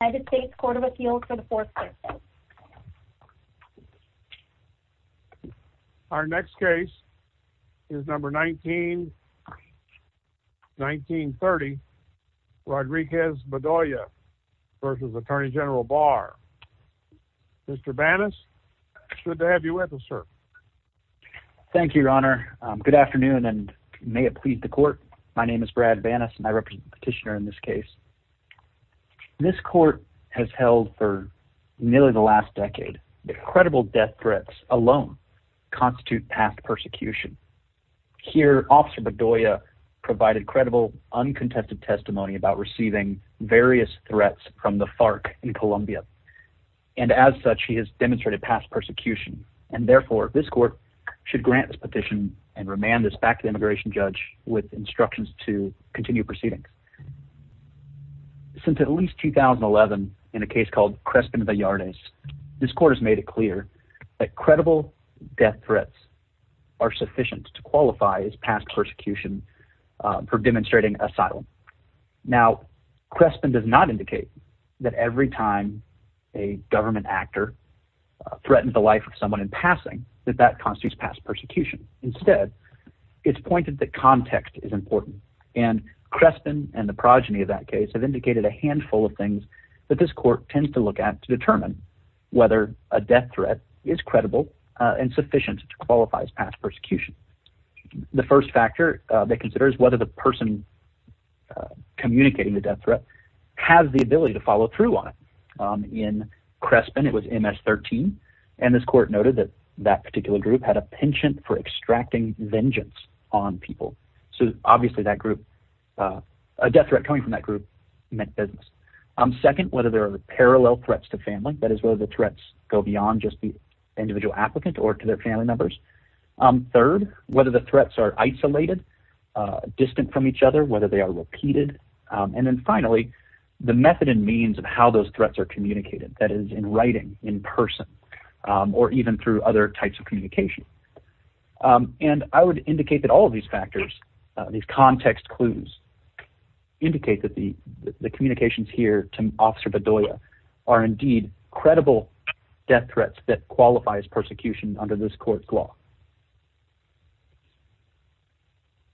United States Court of Appeals for the 4th Circuit Our next case is number 19, 1930 Rodriguez Bedoya v. Attorney General Barr Mr. Banas, good to have you with us, sir. Thank you, your honor. Good afternoon and may it please the court. My name is Brad Banas and I represent the petitioner in this case. This court has held for nearly the last decade that credible death threats alone constitute past persecution. Here, Officer Bedoya provided credible uncontested testimony about receiving various threats from the FARC in Colombia and as such he has demonstrated past persecution and therefore this court should grant this petition and remand this back to the immigration judge with instructions to continue proceedings. Since at least 2011 in a case called Crespin-Vallartes, this court has made it clear that credible death threats are sufficient to qualify as past persecution for demonstrating asylum. Now, Crespin does not indicate that every time a government actor threatens the life of someone in passing that that constitutes past persecution. Instead, it's pointed that context is important and Crespin and the progeny of that case have indicated a handful of things that this court tends to look at to determine whether a death threat is credible and sufficient to qualify as past persecution. The first factor they consider is whether the person communicating the death threat has the ability to follow through on it. In Crespin, it was MS-13 and this court noted that that particular group had a distracting vengeance on people. So obviously that group, a death threat coming from that group, meant business. Second, whether there are parallel threats to family, that is whether the threats go beyond just the individual applicant or to their family members. Third, whether the threats are isolated, distant from each other, whether they are repeated, and then finally the method and means of how those threats are communicated, that is in writing, in And I would indicate that all of these factors, these context clues, indicate that the the communications here to Officer Bedoya are indeed credible death threats that qualifies persecution under this court's law.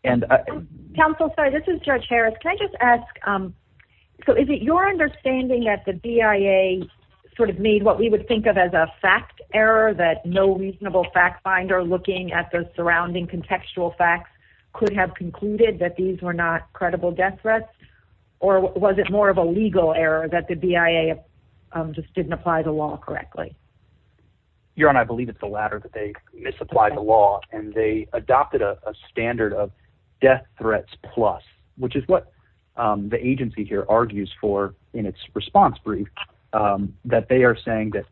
And, Council, sorry, this is Judge Harris. Can I just ask, so is it your understanding that the BIA sort of made what we would think of as a fact error that no reasonable fact finder looking at the surrounding contextual facts could have concluded that these were not credible death threats? Or was it more of a legal error that the BIA just didn't apply the law correctly? Your Honor, I believe it's the latter, that they misapplied the law and they adopted a standard of death threats plus, which is what the agency here argues for in its response brief, that they are saying that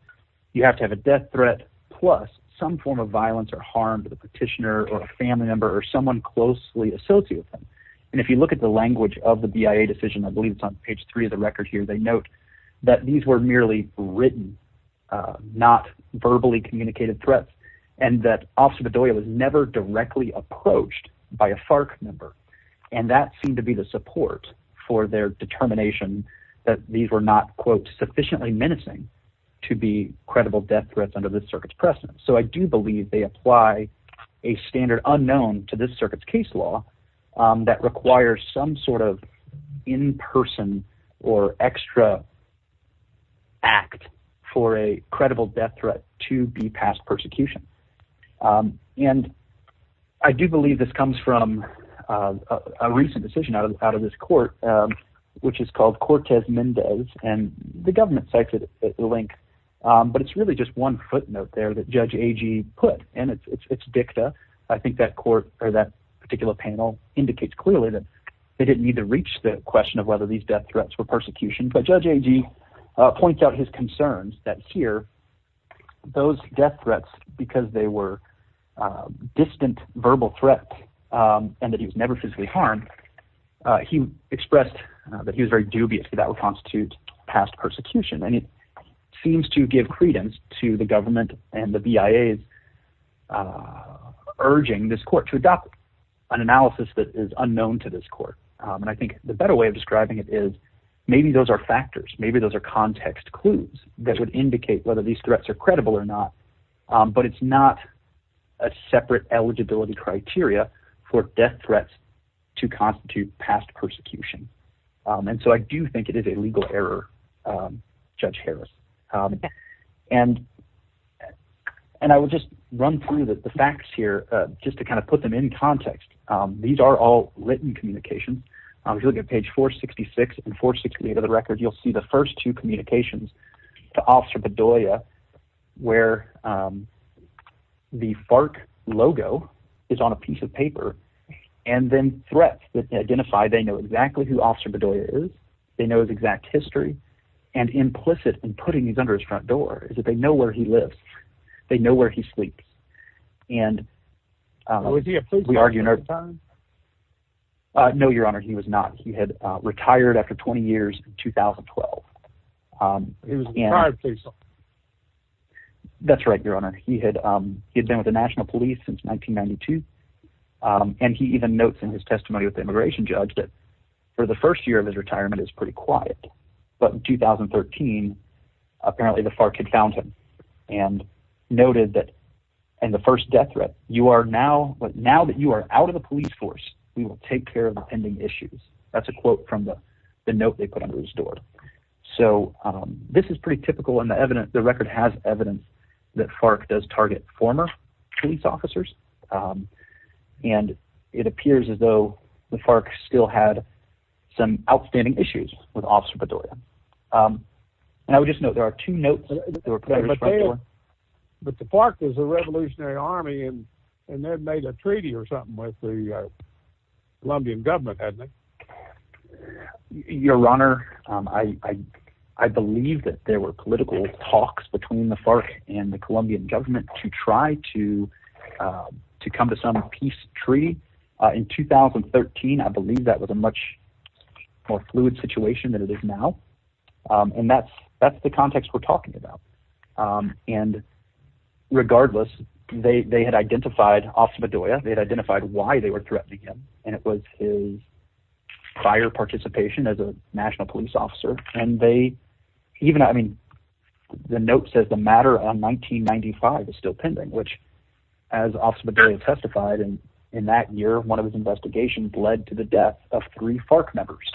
you have to have a death threat plus some form of violence or harm to the petitioner or a family member or someone closely associated with them. And if you look at the language of the BIA decision, I believe it's on page three of the record here, they note that these were merely written, not verbally communicated threats, and that Officer Bedoya was never directly approached by a FARC member. And that seemed to be the support for their determination that these were not, quote, sufficiently menacing to be credible death threats under this circuit's precedent. So I do believe they apply a standard unknown to this circuit's case law that requires some sort of in-person or extra act for a credible death threat to be passed persecution. And I do believe this comes from a recent decision out of this court, which is called Cortez Mendez, and the government cited the link, but it's really just one footnote there that Judge Agee put, and it's dicta. I think that court, or that particular panel, indicates clearly that they didn't need to reach the question of whether these death threats were persecution, but Judge Agee points out his concerns that here, those death threats, because they were distant verbal threats and that he was never physically harmed, he expressed that he was very dubious that would constitute past persecution. And it seems to give credence to the government and the BIA's urging this court to adopt an analysis that is unknown to this court. And I think the better way of describing it is maybe those are factors, maybe those are context clues that would separate eligibility criteria for death threats to constitute past persecution. And so I do think it is a legal error, Judge Harris. And I will just run through the facts here, just to kind of put them in context. These are all written communications. If you look at page 466 and 468 of the record, you'll see the FARC logo is on a piece of paper. And then threats that identify they know exactly who Officer Bedoya is, they know his exact history, and implicit in putting these under his front door is that they know where he lives. They know where he sleeps. And we argue in our time. No, Your Honor, he was not. He had been with the National Police since 1992. And he even notes in his testimony with the immigration judge that for the first year of his retirement is pretty quiet. But in 2013, apparently the FARC had found him and noted that and the first death threat you are now but now that you are out of the police force, we will take care of the pending issues. That's a quote from the note they put under his door. So this is pretty typical in the evidence. The record has evidence that FARC does target former police officers. And it appears as though the FARC still had some outstanding issues with Officer Bedoya. And I would just know there are two notes. But the FARC is a revolutionary army and and they've made a treaty or something with the Colombian government. Your Honor, I I believe that there were political talks between the FARC and the Colombian government to try to to come to some peace treaty in 2013. I believe that was a much more fluid situation than it is now. And that's that's the context we're talking about. And regardless, they had identified Officer Bedoya. They had identified why they were threatening him. And it was his prior participation as a national police officer. And they even I mean, the note says the matter on 1995 is still pending, which as Officer Bedoya testified, and in that year, one of his investigations led to the death of three FARC members.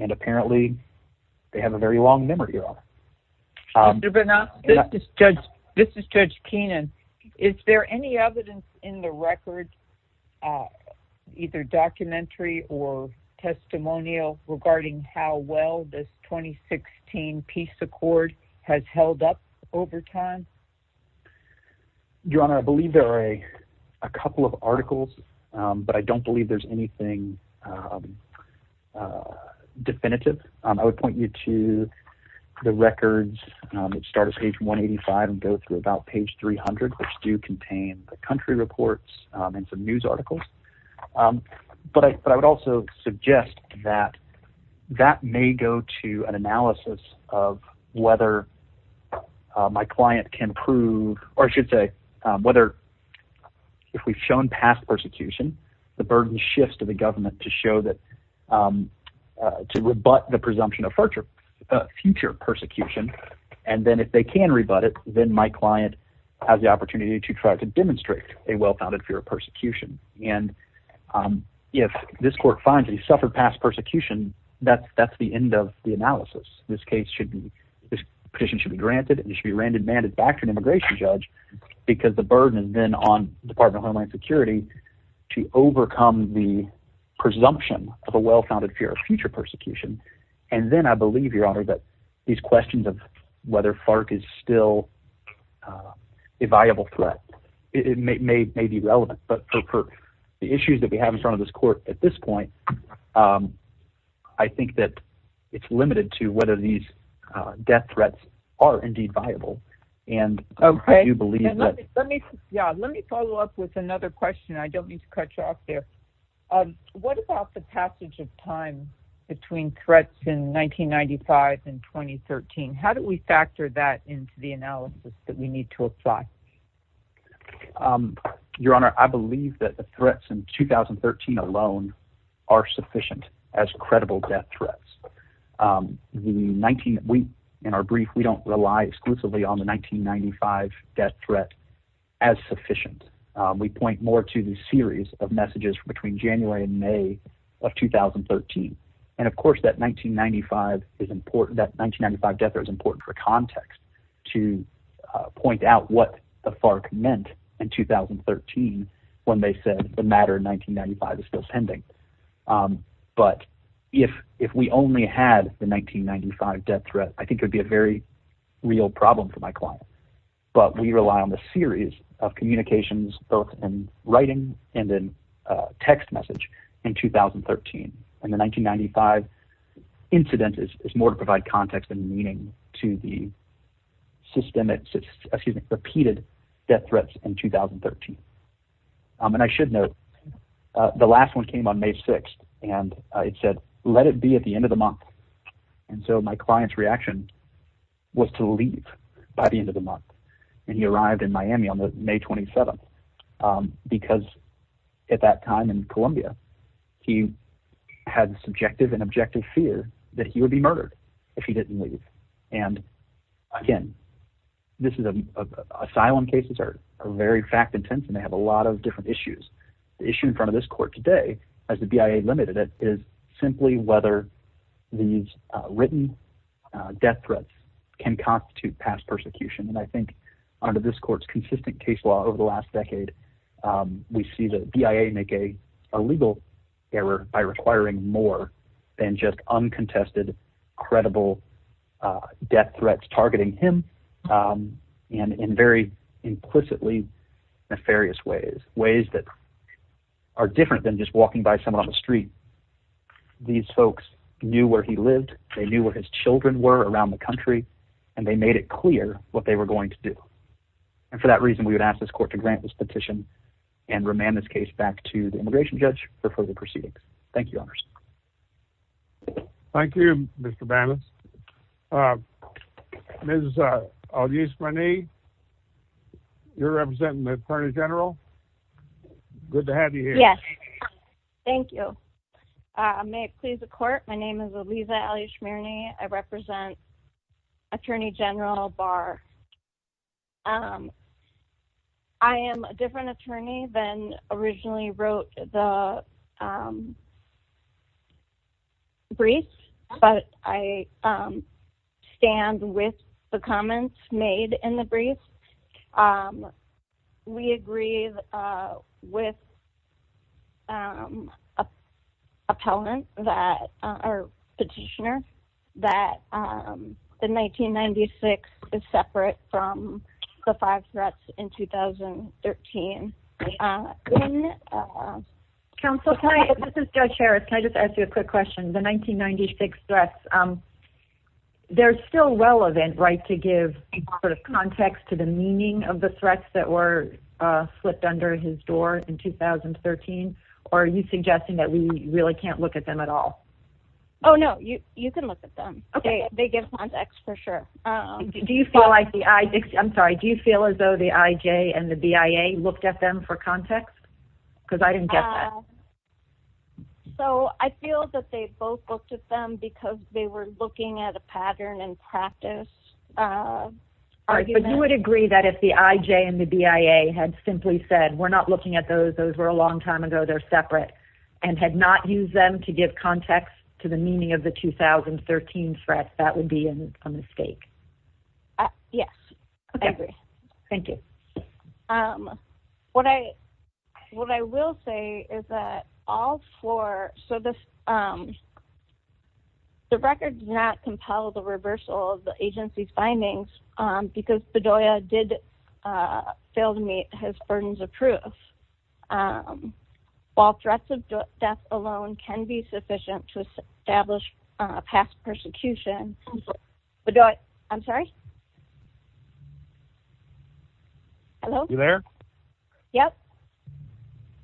And apparently, they have a very long memory. This is Judge Keenan. Is there any evidence in the record, either documentary or testimonial regarding how well this 2016 peace accord has held up over time? Your Honor, I believe there are a couple of articles, but I don't believe there's anything definitive. I would point you to the records that start at page 185 and go through about page 300, which do contain the country reports and some news articles. But I would also suggest that that may go to an analysis of whether my client can prove, or I should say, whether if we've shown past persecution, the burden shifts to the government to show that, to rebut the presumption of future persecution. And then if they can rebut it, then my client has the opportunity to try to demonstrate a well-founded fear of persecution. And if this court finds that he suffered past persecution, that's the end of the analysis. This case should be, this petition should be granted, and it should be randomly handed back to an immigration judge, because the burden then on my security to overcome the presumption of a well-founded fear of future persecution. And then I believe, Your Honor, that these questions of whether FARC is still a viable threat, it may be relevant, but for the issues that we have in front of this court at this point, I think that it's limited to whether these death threats are indeed viable. And I do believe that. Yeah, let me follow up with another question. I don't need to cut you off there. What about the passage of time between threats in 1995 and 2013? How do we factor that into the analysis that we need to apply? Your Honor, I believe that the threats in 2013 alone are sufficient as credible death threats. In our brief, we don't rely exclusively on the 1995 death threat as sufficient. We point more to the series of messages between January and May of 2013. And of course, that 1995 is important, that 1995 death threat is important for context to point out what the FARC meant in 2013 when they said the matter in 1995 is still pending. But if we only had the 1995 death threat, I think it would be a very real problem for my client. But we rely on the series of communications both in writing and in text message in 2013. And the 1995 incident is more to provide context and meaning to the systemic, excuse me, repeated death threats in 2013. And I should note, the last one came on May 6. And it said, let it be at the end of the month. And so my client's reaction was to leave by the end of the month. And he arrived in Miami on May 27. Because at that time in Columbia, he had subjective and objective fear that he would be murdered if he didn't leave. And again, this is asylum cases are very fact intense, and they have a lot of issues. The issue in front of this court today, as the BIA limited it is simply whether these written death threats can constitute past persecution. And I think under this court's consistent case law over the last decade, we see the BIA make a legal error by requiring more than just uncontested, credible death ways that are different than just walking by someone on the street. These folks knew where he lived, they knew where his children were around the country, and they made it clear what they were going to do. And for that reason, we would ask this court to grant this petition and remand this case back to the immigration judge for further proceedings. Thank you, honors. Thank you, Mr. Banas. Ms. Aguizmane, you're representing the Attorney General. Good to have you here. Yes. Thank you. May it please the court. My name is Elisa Aguizmane. I represent Attorney General Barr. I am a different attorney than originally wrote the brief, but I stand with the comments made in the brief. We agree with appellant that our petitioner that the 1996 is separate from the five threats in 2013. Counsel, this is Judge Harris. Can I just ask you a quick question? The 1996 threats, they're still relevant, right, to give some sort of context to the meaning of the threats that were flipped under his door in 2013? Or are you suggesting that we really can't look at them at all? Oh, no. You can look at them. Okay. They give context for sure. Do you feel like the... I'm sorry. Do you feel as though the IJ and the BIA looked at them for context? Because I didn't get that. So I feel that they both looked at them because they were looking at a pattern and practice. But you would agree that if the IJ and the BIA had simply said, we're not looking at those, those were a long time ago, they're separate, and had not used them to give context to the meaning of the 2013 threats, that would be a mistake. Yes. Okay. I agree. Thank you. What I will say is that all four... So the record does not compel the reversal of the agency's findings, because Bedoya did fail to meet his burdens of proof. While threats of death alone can be sufficient to establish a past persecution Bedoya... I'm sorry? Hello? You there? Yep.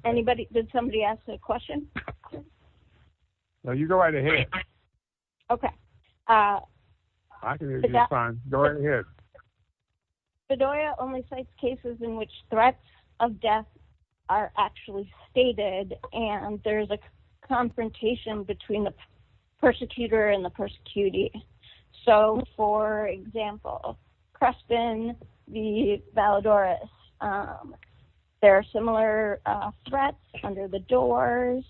Anybody... Did somebody ask a question? No, you go right ahead. Okay. I can hear you just fine. Go right ahead. Bedoya only cites cases in which threats of death are actually stated, and there's a confrontation between the persecutor and the persecutee. So for example, Crespin v. Valadores, there are similar threats under the doors.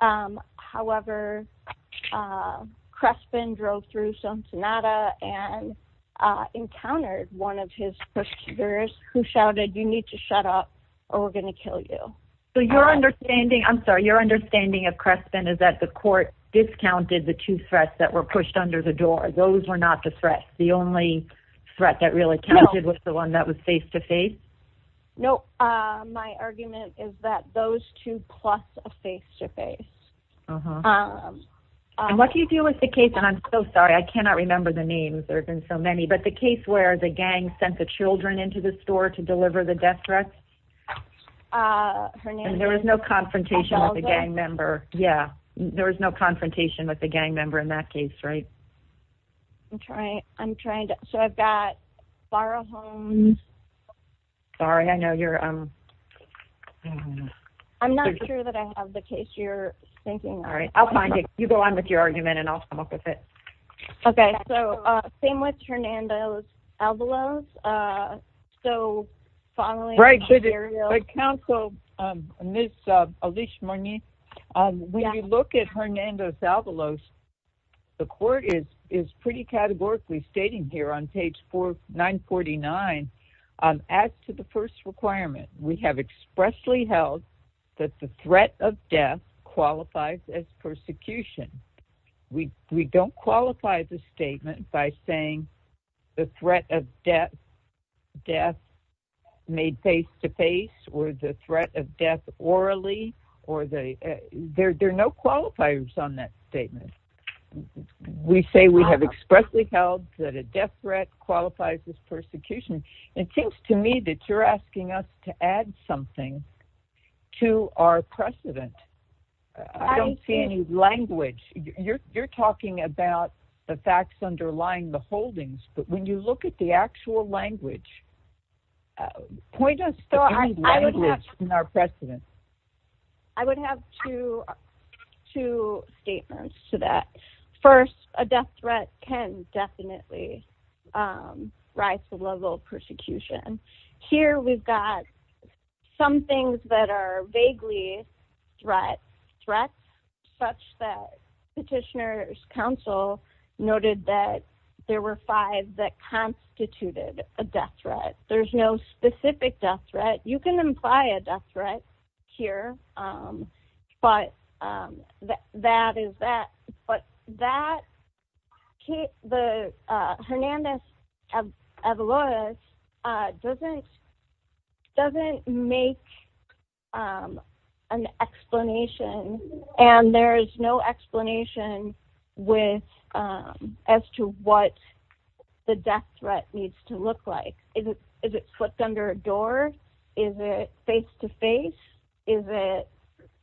However, Crespin drove through Sonsenada and encountered one of his persecutors who shouted, you need to shut up or we're gonna kill you. So your understanding... I'm sorry, your understanding of Crespin is that the court discounted the two threats that were pushed under the door. Those were not the threats, the only threat that really counted was the one that was face to face? No, my argument is that those two plus a face to face. And what do you do with the case... And I'm so sorry, I cannot remember the names, there have been so many, but the case where the gang sent the children into the store to deliver the death threats? Hernandez... And there was no confrontation with the gang member. Yeah, there was no confrontation with the gang member in that case, right? I'm trying to... So I've got Farrah Holmes... Sorry, I know you're... I'm not sure that I have the case you're thinking of. Alright, I'll find it. You go on with your argument and I'll come up with it. Okay, so same with Hernandez Alvarez. So following up... Right, so the counsel, Ms. Alishmony, when you look at Hernandez Alvarez, the court is pretty categorically stating here on page 949, as to the first requirement, we have expressly held that the threat of death qualifies as persecution. We don't qualify the statement by saying the threat of death made face to face, or the threat of death orally, or the... There are no qualifiers on that statement. We say we have expressly held that a death threat qualifies as persecution. It seems to me that you're asking us to add something to our precedent. I don't see any language. You're talking about the holdings, but when you look at the actual language, point us to any language in our precedent. I would have two statements to that. First, a death threat can definitely rise to the level of persecution. Here, we've got some things that are vaguely threats, such that Petitioner's five that constituted a death threat. There's no specific death threat. You can imply a death threat here, but that is that. But that... The Hernandez Alvarez doesn't make an explanation, and there is no explanation for what the death threat needs to look like. Is it flipped under a door? Is it face to face? Is it...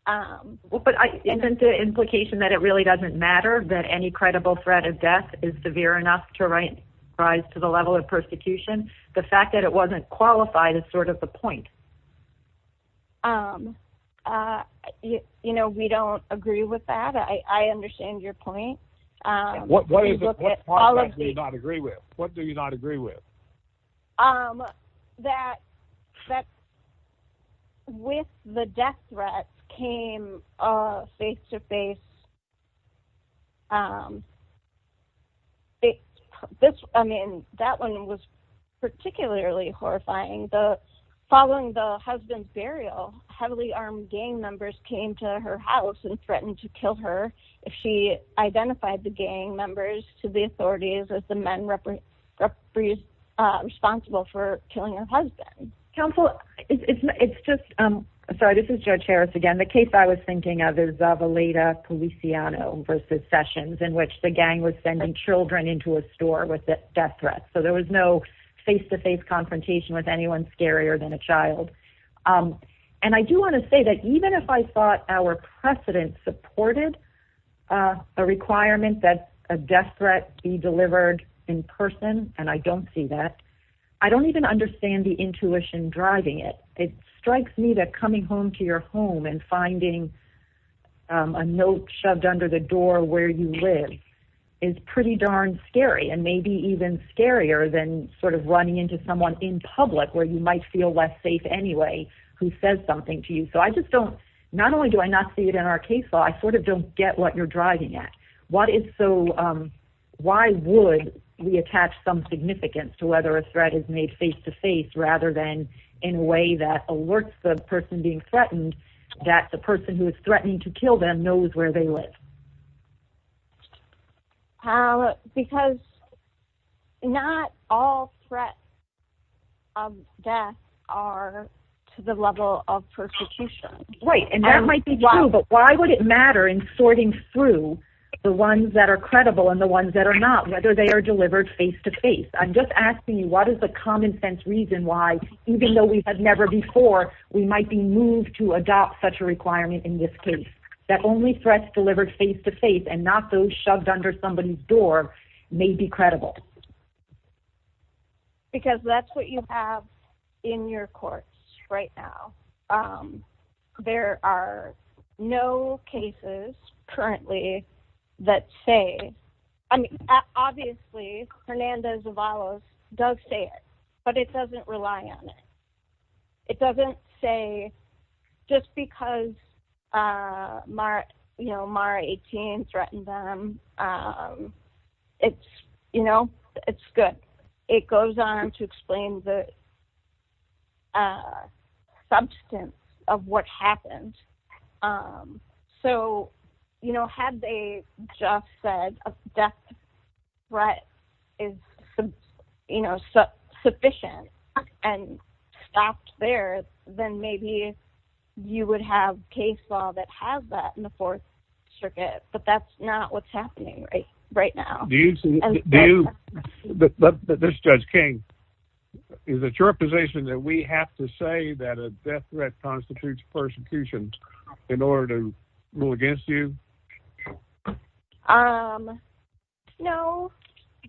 But isn't the implication that it really doesn't matter that any credible threat of death is severe enough to rise to the level of persecution? The fact that it wasn't qualified is sort of the point. We don't agree with that. I understand your point. What do you not agree with? That with the death threat came face to face... That one was particularly horrifying. Following the husband's burial, heavily armed gang members came to her house and threatened to kill her if she identified the gang members to the authorities as the men responsible for killing her husband. Counsel, it's just... Sorry, this is Judge Harris again. The case I was thinking of is of Aleda Policiano versus Sessions, in which the gang was sending children into a store with a death threat. So there was no face to face confrontation with anyone scarier than a child. And I do wanna say that even if I thought our precedent supported a requirement that a death threat be delivered in person, and I don't see that, I don't even understand the intuition driving it. It strikes me that coming home to your home and finding a note shoved under the than running into someone in public where you might feel less safe anyway, who says something to you. So I just don't... Not only do I not see it in our case law, I don't get what you're driving at. Why would we attach some significance to whether a threat is made face to face rather than in a way that alerts the person being threatened that the person who is threatening to kill them knows where they live? Because not all threats of death are to the level of persecution. Right, and that might be true, but why would it matter in sorting through the ones that are credible and the ones that are not, whether they are delivered face to face? I'm just asking you, what is the common sense reason why, even though we have never before, we might be moved to adopt such a requirement in this case, that only threats delivered face to face and not those shoved under somebody's door may be credible? Because that's what you have in your courts right now. There are no cases currently that say... I mean, obviously, Hernandez Zavalos does say it, but it doesn't rely on it. It doesn't say just because Mara 18 threatened them, it's good. It goes on to explain the substance of what happened. So, had they just said a death threat is sufficient and stopped there, then maybe you would have case law that has that in the Fourth Circuit, but that's not what's happening right now. Do you... This is Judge King. Is it your position that we have to say that a death threat constitutes persecution in order to rule against you? No,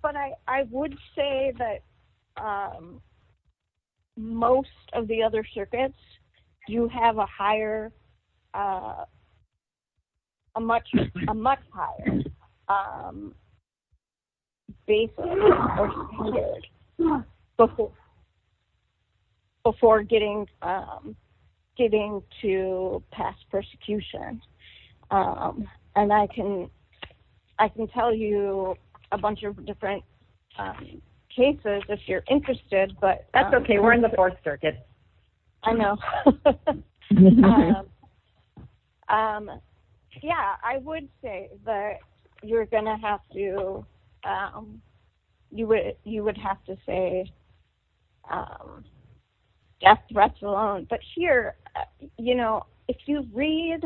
but I would say that most of the other circuits do have a higher... A much higher basis before getting to pass persecution. And I can tell you a bunch of different cases if you're interested, but... That's okay. We're in the You're going to have to... You would have to say death threats alone, but here, you know, if you read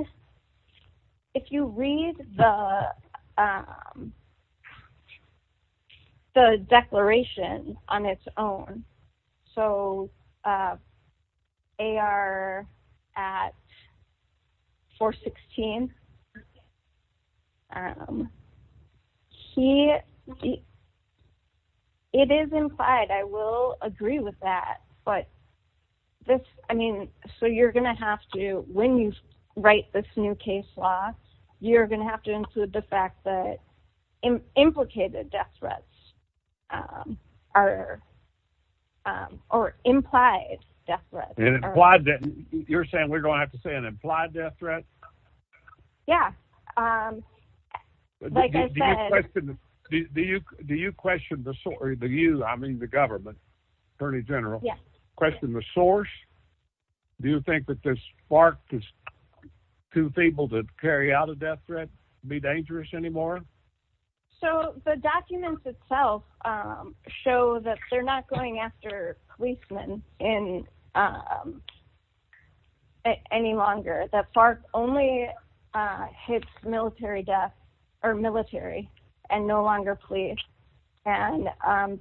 the declaration on its own, so AR at 416, he... It is implied. I will agree with that, but this... I mean, so you're going to have to, when you write this new case law, you're going to have to include the fact that implicated death threats are... Or implied death threats. And implied death... You're questioning... Do you question the... I mean, the government, Attorney General, question the source? Do you think that this FARC is too feeble to carry out a death threat, be dangerous anymore? So the documents itself show that they're not going after policemen in... Any longer. That FARC only hits military death, or military, and no longer police. And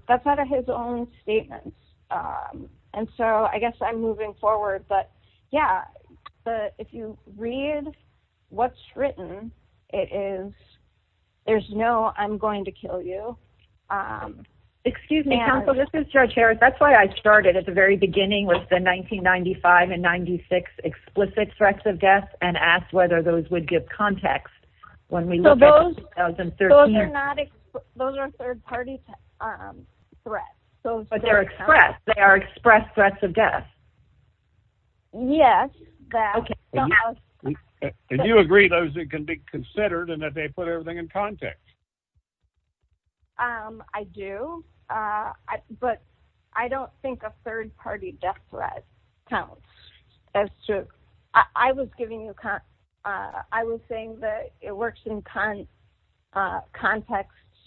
that's out of his own statements. And so I guess I'm moving forward, but yeah, if you read what's written, it is, there's no, I'm going to kill you. Excuse me, counsel, this is Judge Harris. That's why I started at the very beginning with the 1995 and 96 explicit threats of death, and asked whether those would give context when we look at the 2013... So those are not... Those are third-party threats. But they're expressed. They are expressed threats of death. Yes, that... Okay. And you agree those can be considered, and that they put everything in context? I do, but I don't think a third-party death threat counts, as to... I was giving you that. I was saying that it works in context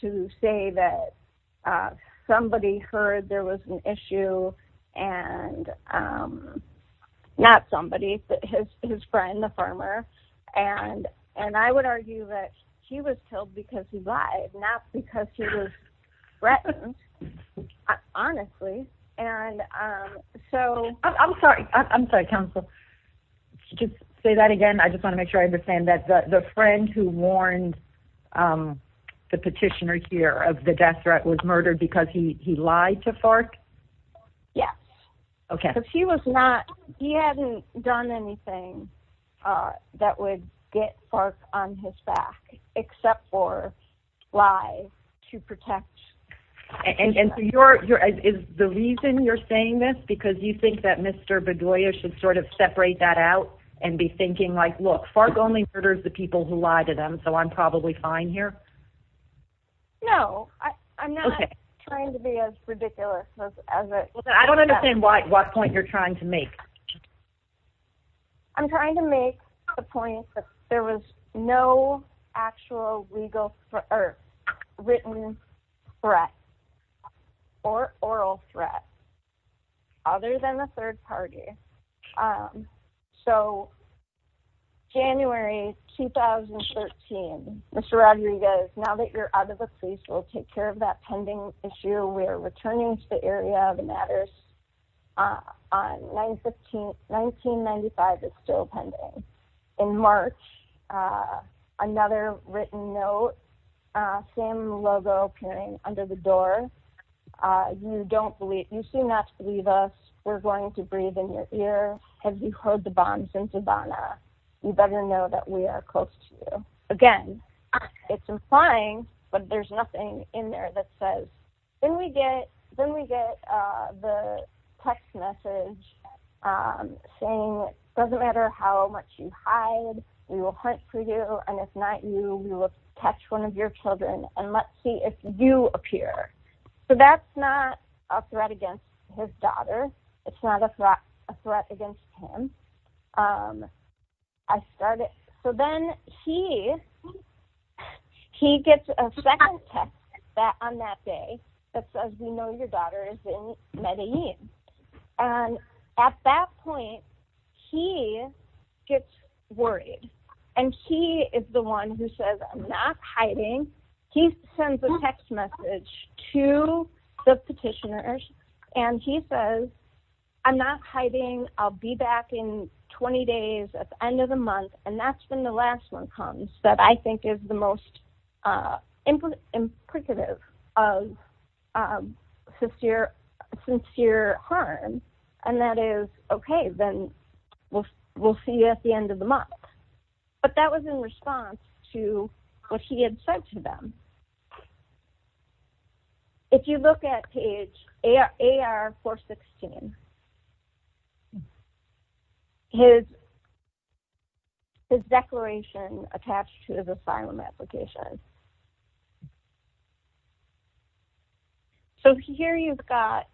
to say that somebody heard there was an issue, and not somebody, but his friend, the farmer. And I would argue that he was killed because he lied, not because he was threatened, honestly. And so... I'm sorry. I'm sorry, counsel, to say that again. I just want to make sure I understand that the friend who warned the petitioner here of the death threat was murdered because he lied to FARC? Yes. Okay. Because he was not... He hadn't done anything that would get FARC on his back, except for lie to protect... And so you're... Is the reason you're saying this, because you think that Mr. Bedoya should sort of separate that out, and be thinking like, look, FARC only murders the people who lie to them, so I'm probably fine here? No. I'm not trying to be as ridiculous as it... I don't understand what point you're trying to make. I'm trying to make the point that there was no actual legal or written threat, or oral threat, other than the third party. So, January 2013. Mr. Rodriguez, now that you're out of the police, we'll take care of that pending issue. We're returning to the area of matters on 1915... 1995 is still pending. In March, another written note, same logo appearing under the door. You don't believe... You seem not to believe us. We're going to breathe in your ear. Have you heard the bombs in Savannah? You better know that we are close to you. Again, it's implying, but there's nothing in there that says... Then we get the text message saying, it doesn't matter how much you hide, we will hunt for you, and if not you, we will catch one of your children, and let's see if you appear. So that's not a threat against his daughter. It's not a threat against him. I started... So then he gets a second text on that day that says, we know your daughter is in Medellin. And at that point, he gets worried. And he is the one who says, I'm not hiding. He sends a text message to the petitioners, and he says, I'm not hiding. I'll be back in 20 days, at the end of the month, and that's when the last one comes, that I think is the most implicative of sincere harm. And that is, okay, then we'll see you at the end of the month. But that was in response to what he had said to them. If you look at page AR-416, his declaration attached to his asylum application, so here you've got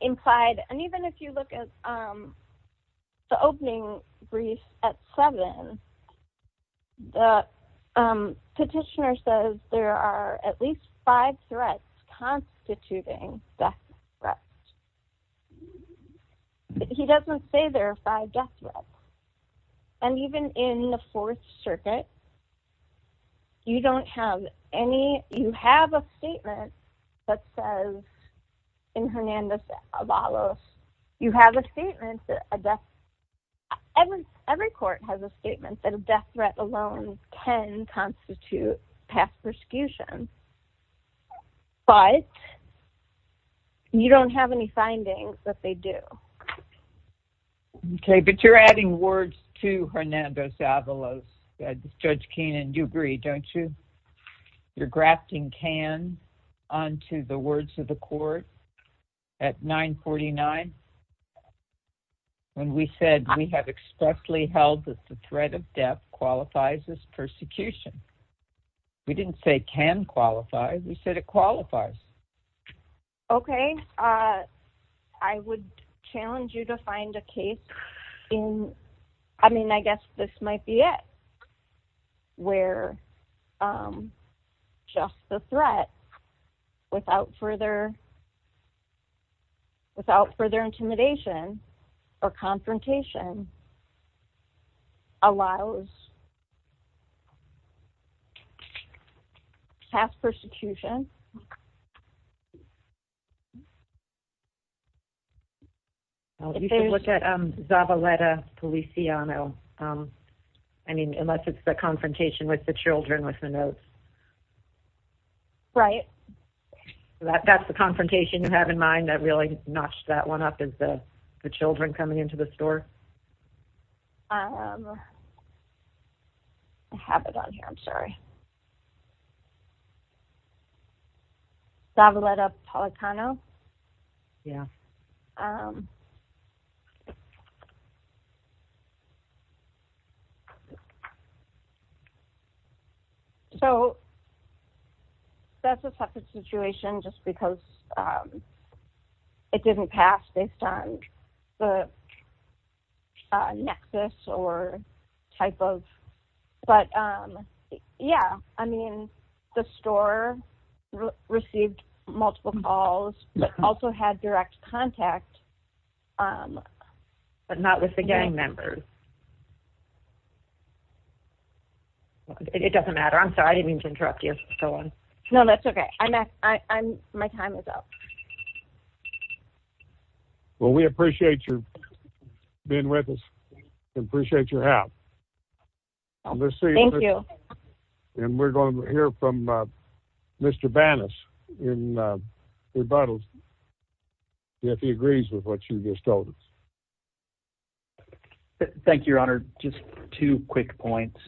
implied, and even if you look at the opening brief at 7, the petitioner says there are at least five threats constituting death threats. He doesn't say there are five death threats. And even in the Fourth Circuit, you don't have any... You have a statement that says, in Hernandez-Avalos, you have a statement that a death... Every court has a statement that a death threat alone can constitute past persecution. But you don't have any findings that they do. Okay, but you're adding words to Hernandez-Avalos. Judge Keenan, you agree, don't you? You're grafting can onto the words of the court at 949, when we said we have expressly held that the threat of death qualifies as persecution. We didn't say can qualify, we said it qualifies. Okay, I would challenge you to find a case in... I mean, I guess this might be it, where just the threat without further intimidation or confrontation allows past persecution. You can look at Zabaleta Policiano. I mean, unless it's the confrontation with the children with the notes. Right. That's the confrontation you have in mind that really notched that one up, is the children coming into the store? I have it on here, I'm sorry. Zabaleta Policiano? Yeah. So, that's a separate situation just because it didn't pass based on the nexus or type of... Yeah, I mean, the store received multiple calls, but also had direct contact, but not with the gang members. It doesn't matter, I'm sorry, I didn't mean to interrupt you. No, that's okay. My time is up. Well, we appreciate you being with us. Appreciate your help. Thank you. And we're going to hear from Mr. Banas in rebuttals, if he agrees with what you just told us. Thank you, Your Honor. Just two quick points.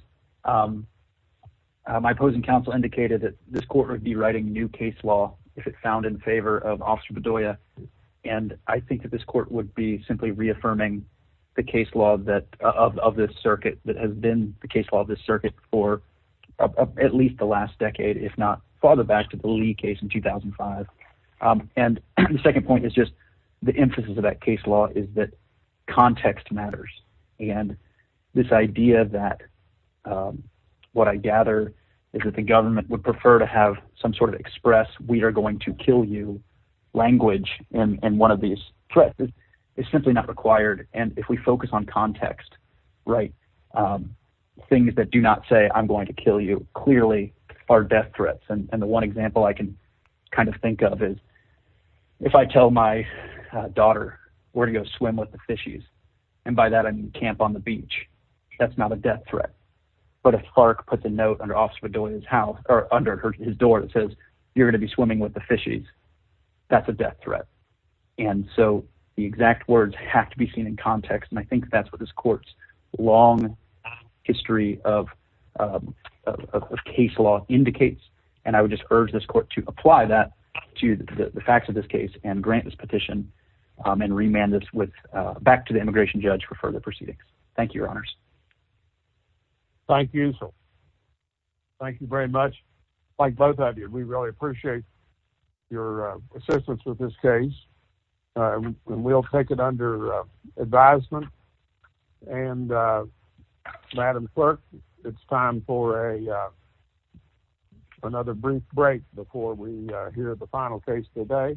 My opposing counsel indicated that this court would be writing new case law if it found in favor of Officer Bedoya. And I think that this court would be simply reaffirming the case law of this circuit that has been the case law of this circuit for at least the last decade, if not farther back to the Lee case in 2005. And the second point is just the emphasis of that case law is that context matters. And this idea that what I gather is that the government would prefer to have some sort of express, we are going to kill you language in one of these threats is simply not required. And if we focus on context, things that do not say I'm going to kill you clearly are death threats. And the one example I can kind of think of is if I tell my daughter we're going to go swim with the fishies, and by that I mean camp on the beach, that's not a death threat. But if Clark puts a note under Officer Bedoya's house – or under his door that says you're going to be swimming with the fishies, that's a death threat. And so the exact words have to be seen in context, and I think that's what this court's long history of case law indicates. And I would just urge this court to apply that to the facts of this case and grant this petition and remand this back to the immigration judge for further proceedings. Thank you. Thank you very much. Like both of you, we really appreciate your assistance with this case, and we'll take it under advisement. And Madam Clerk, it's time for another brief break before we hear the final case today.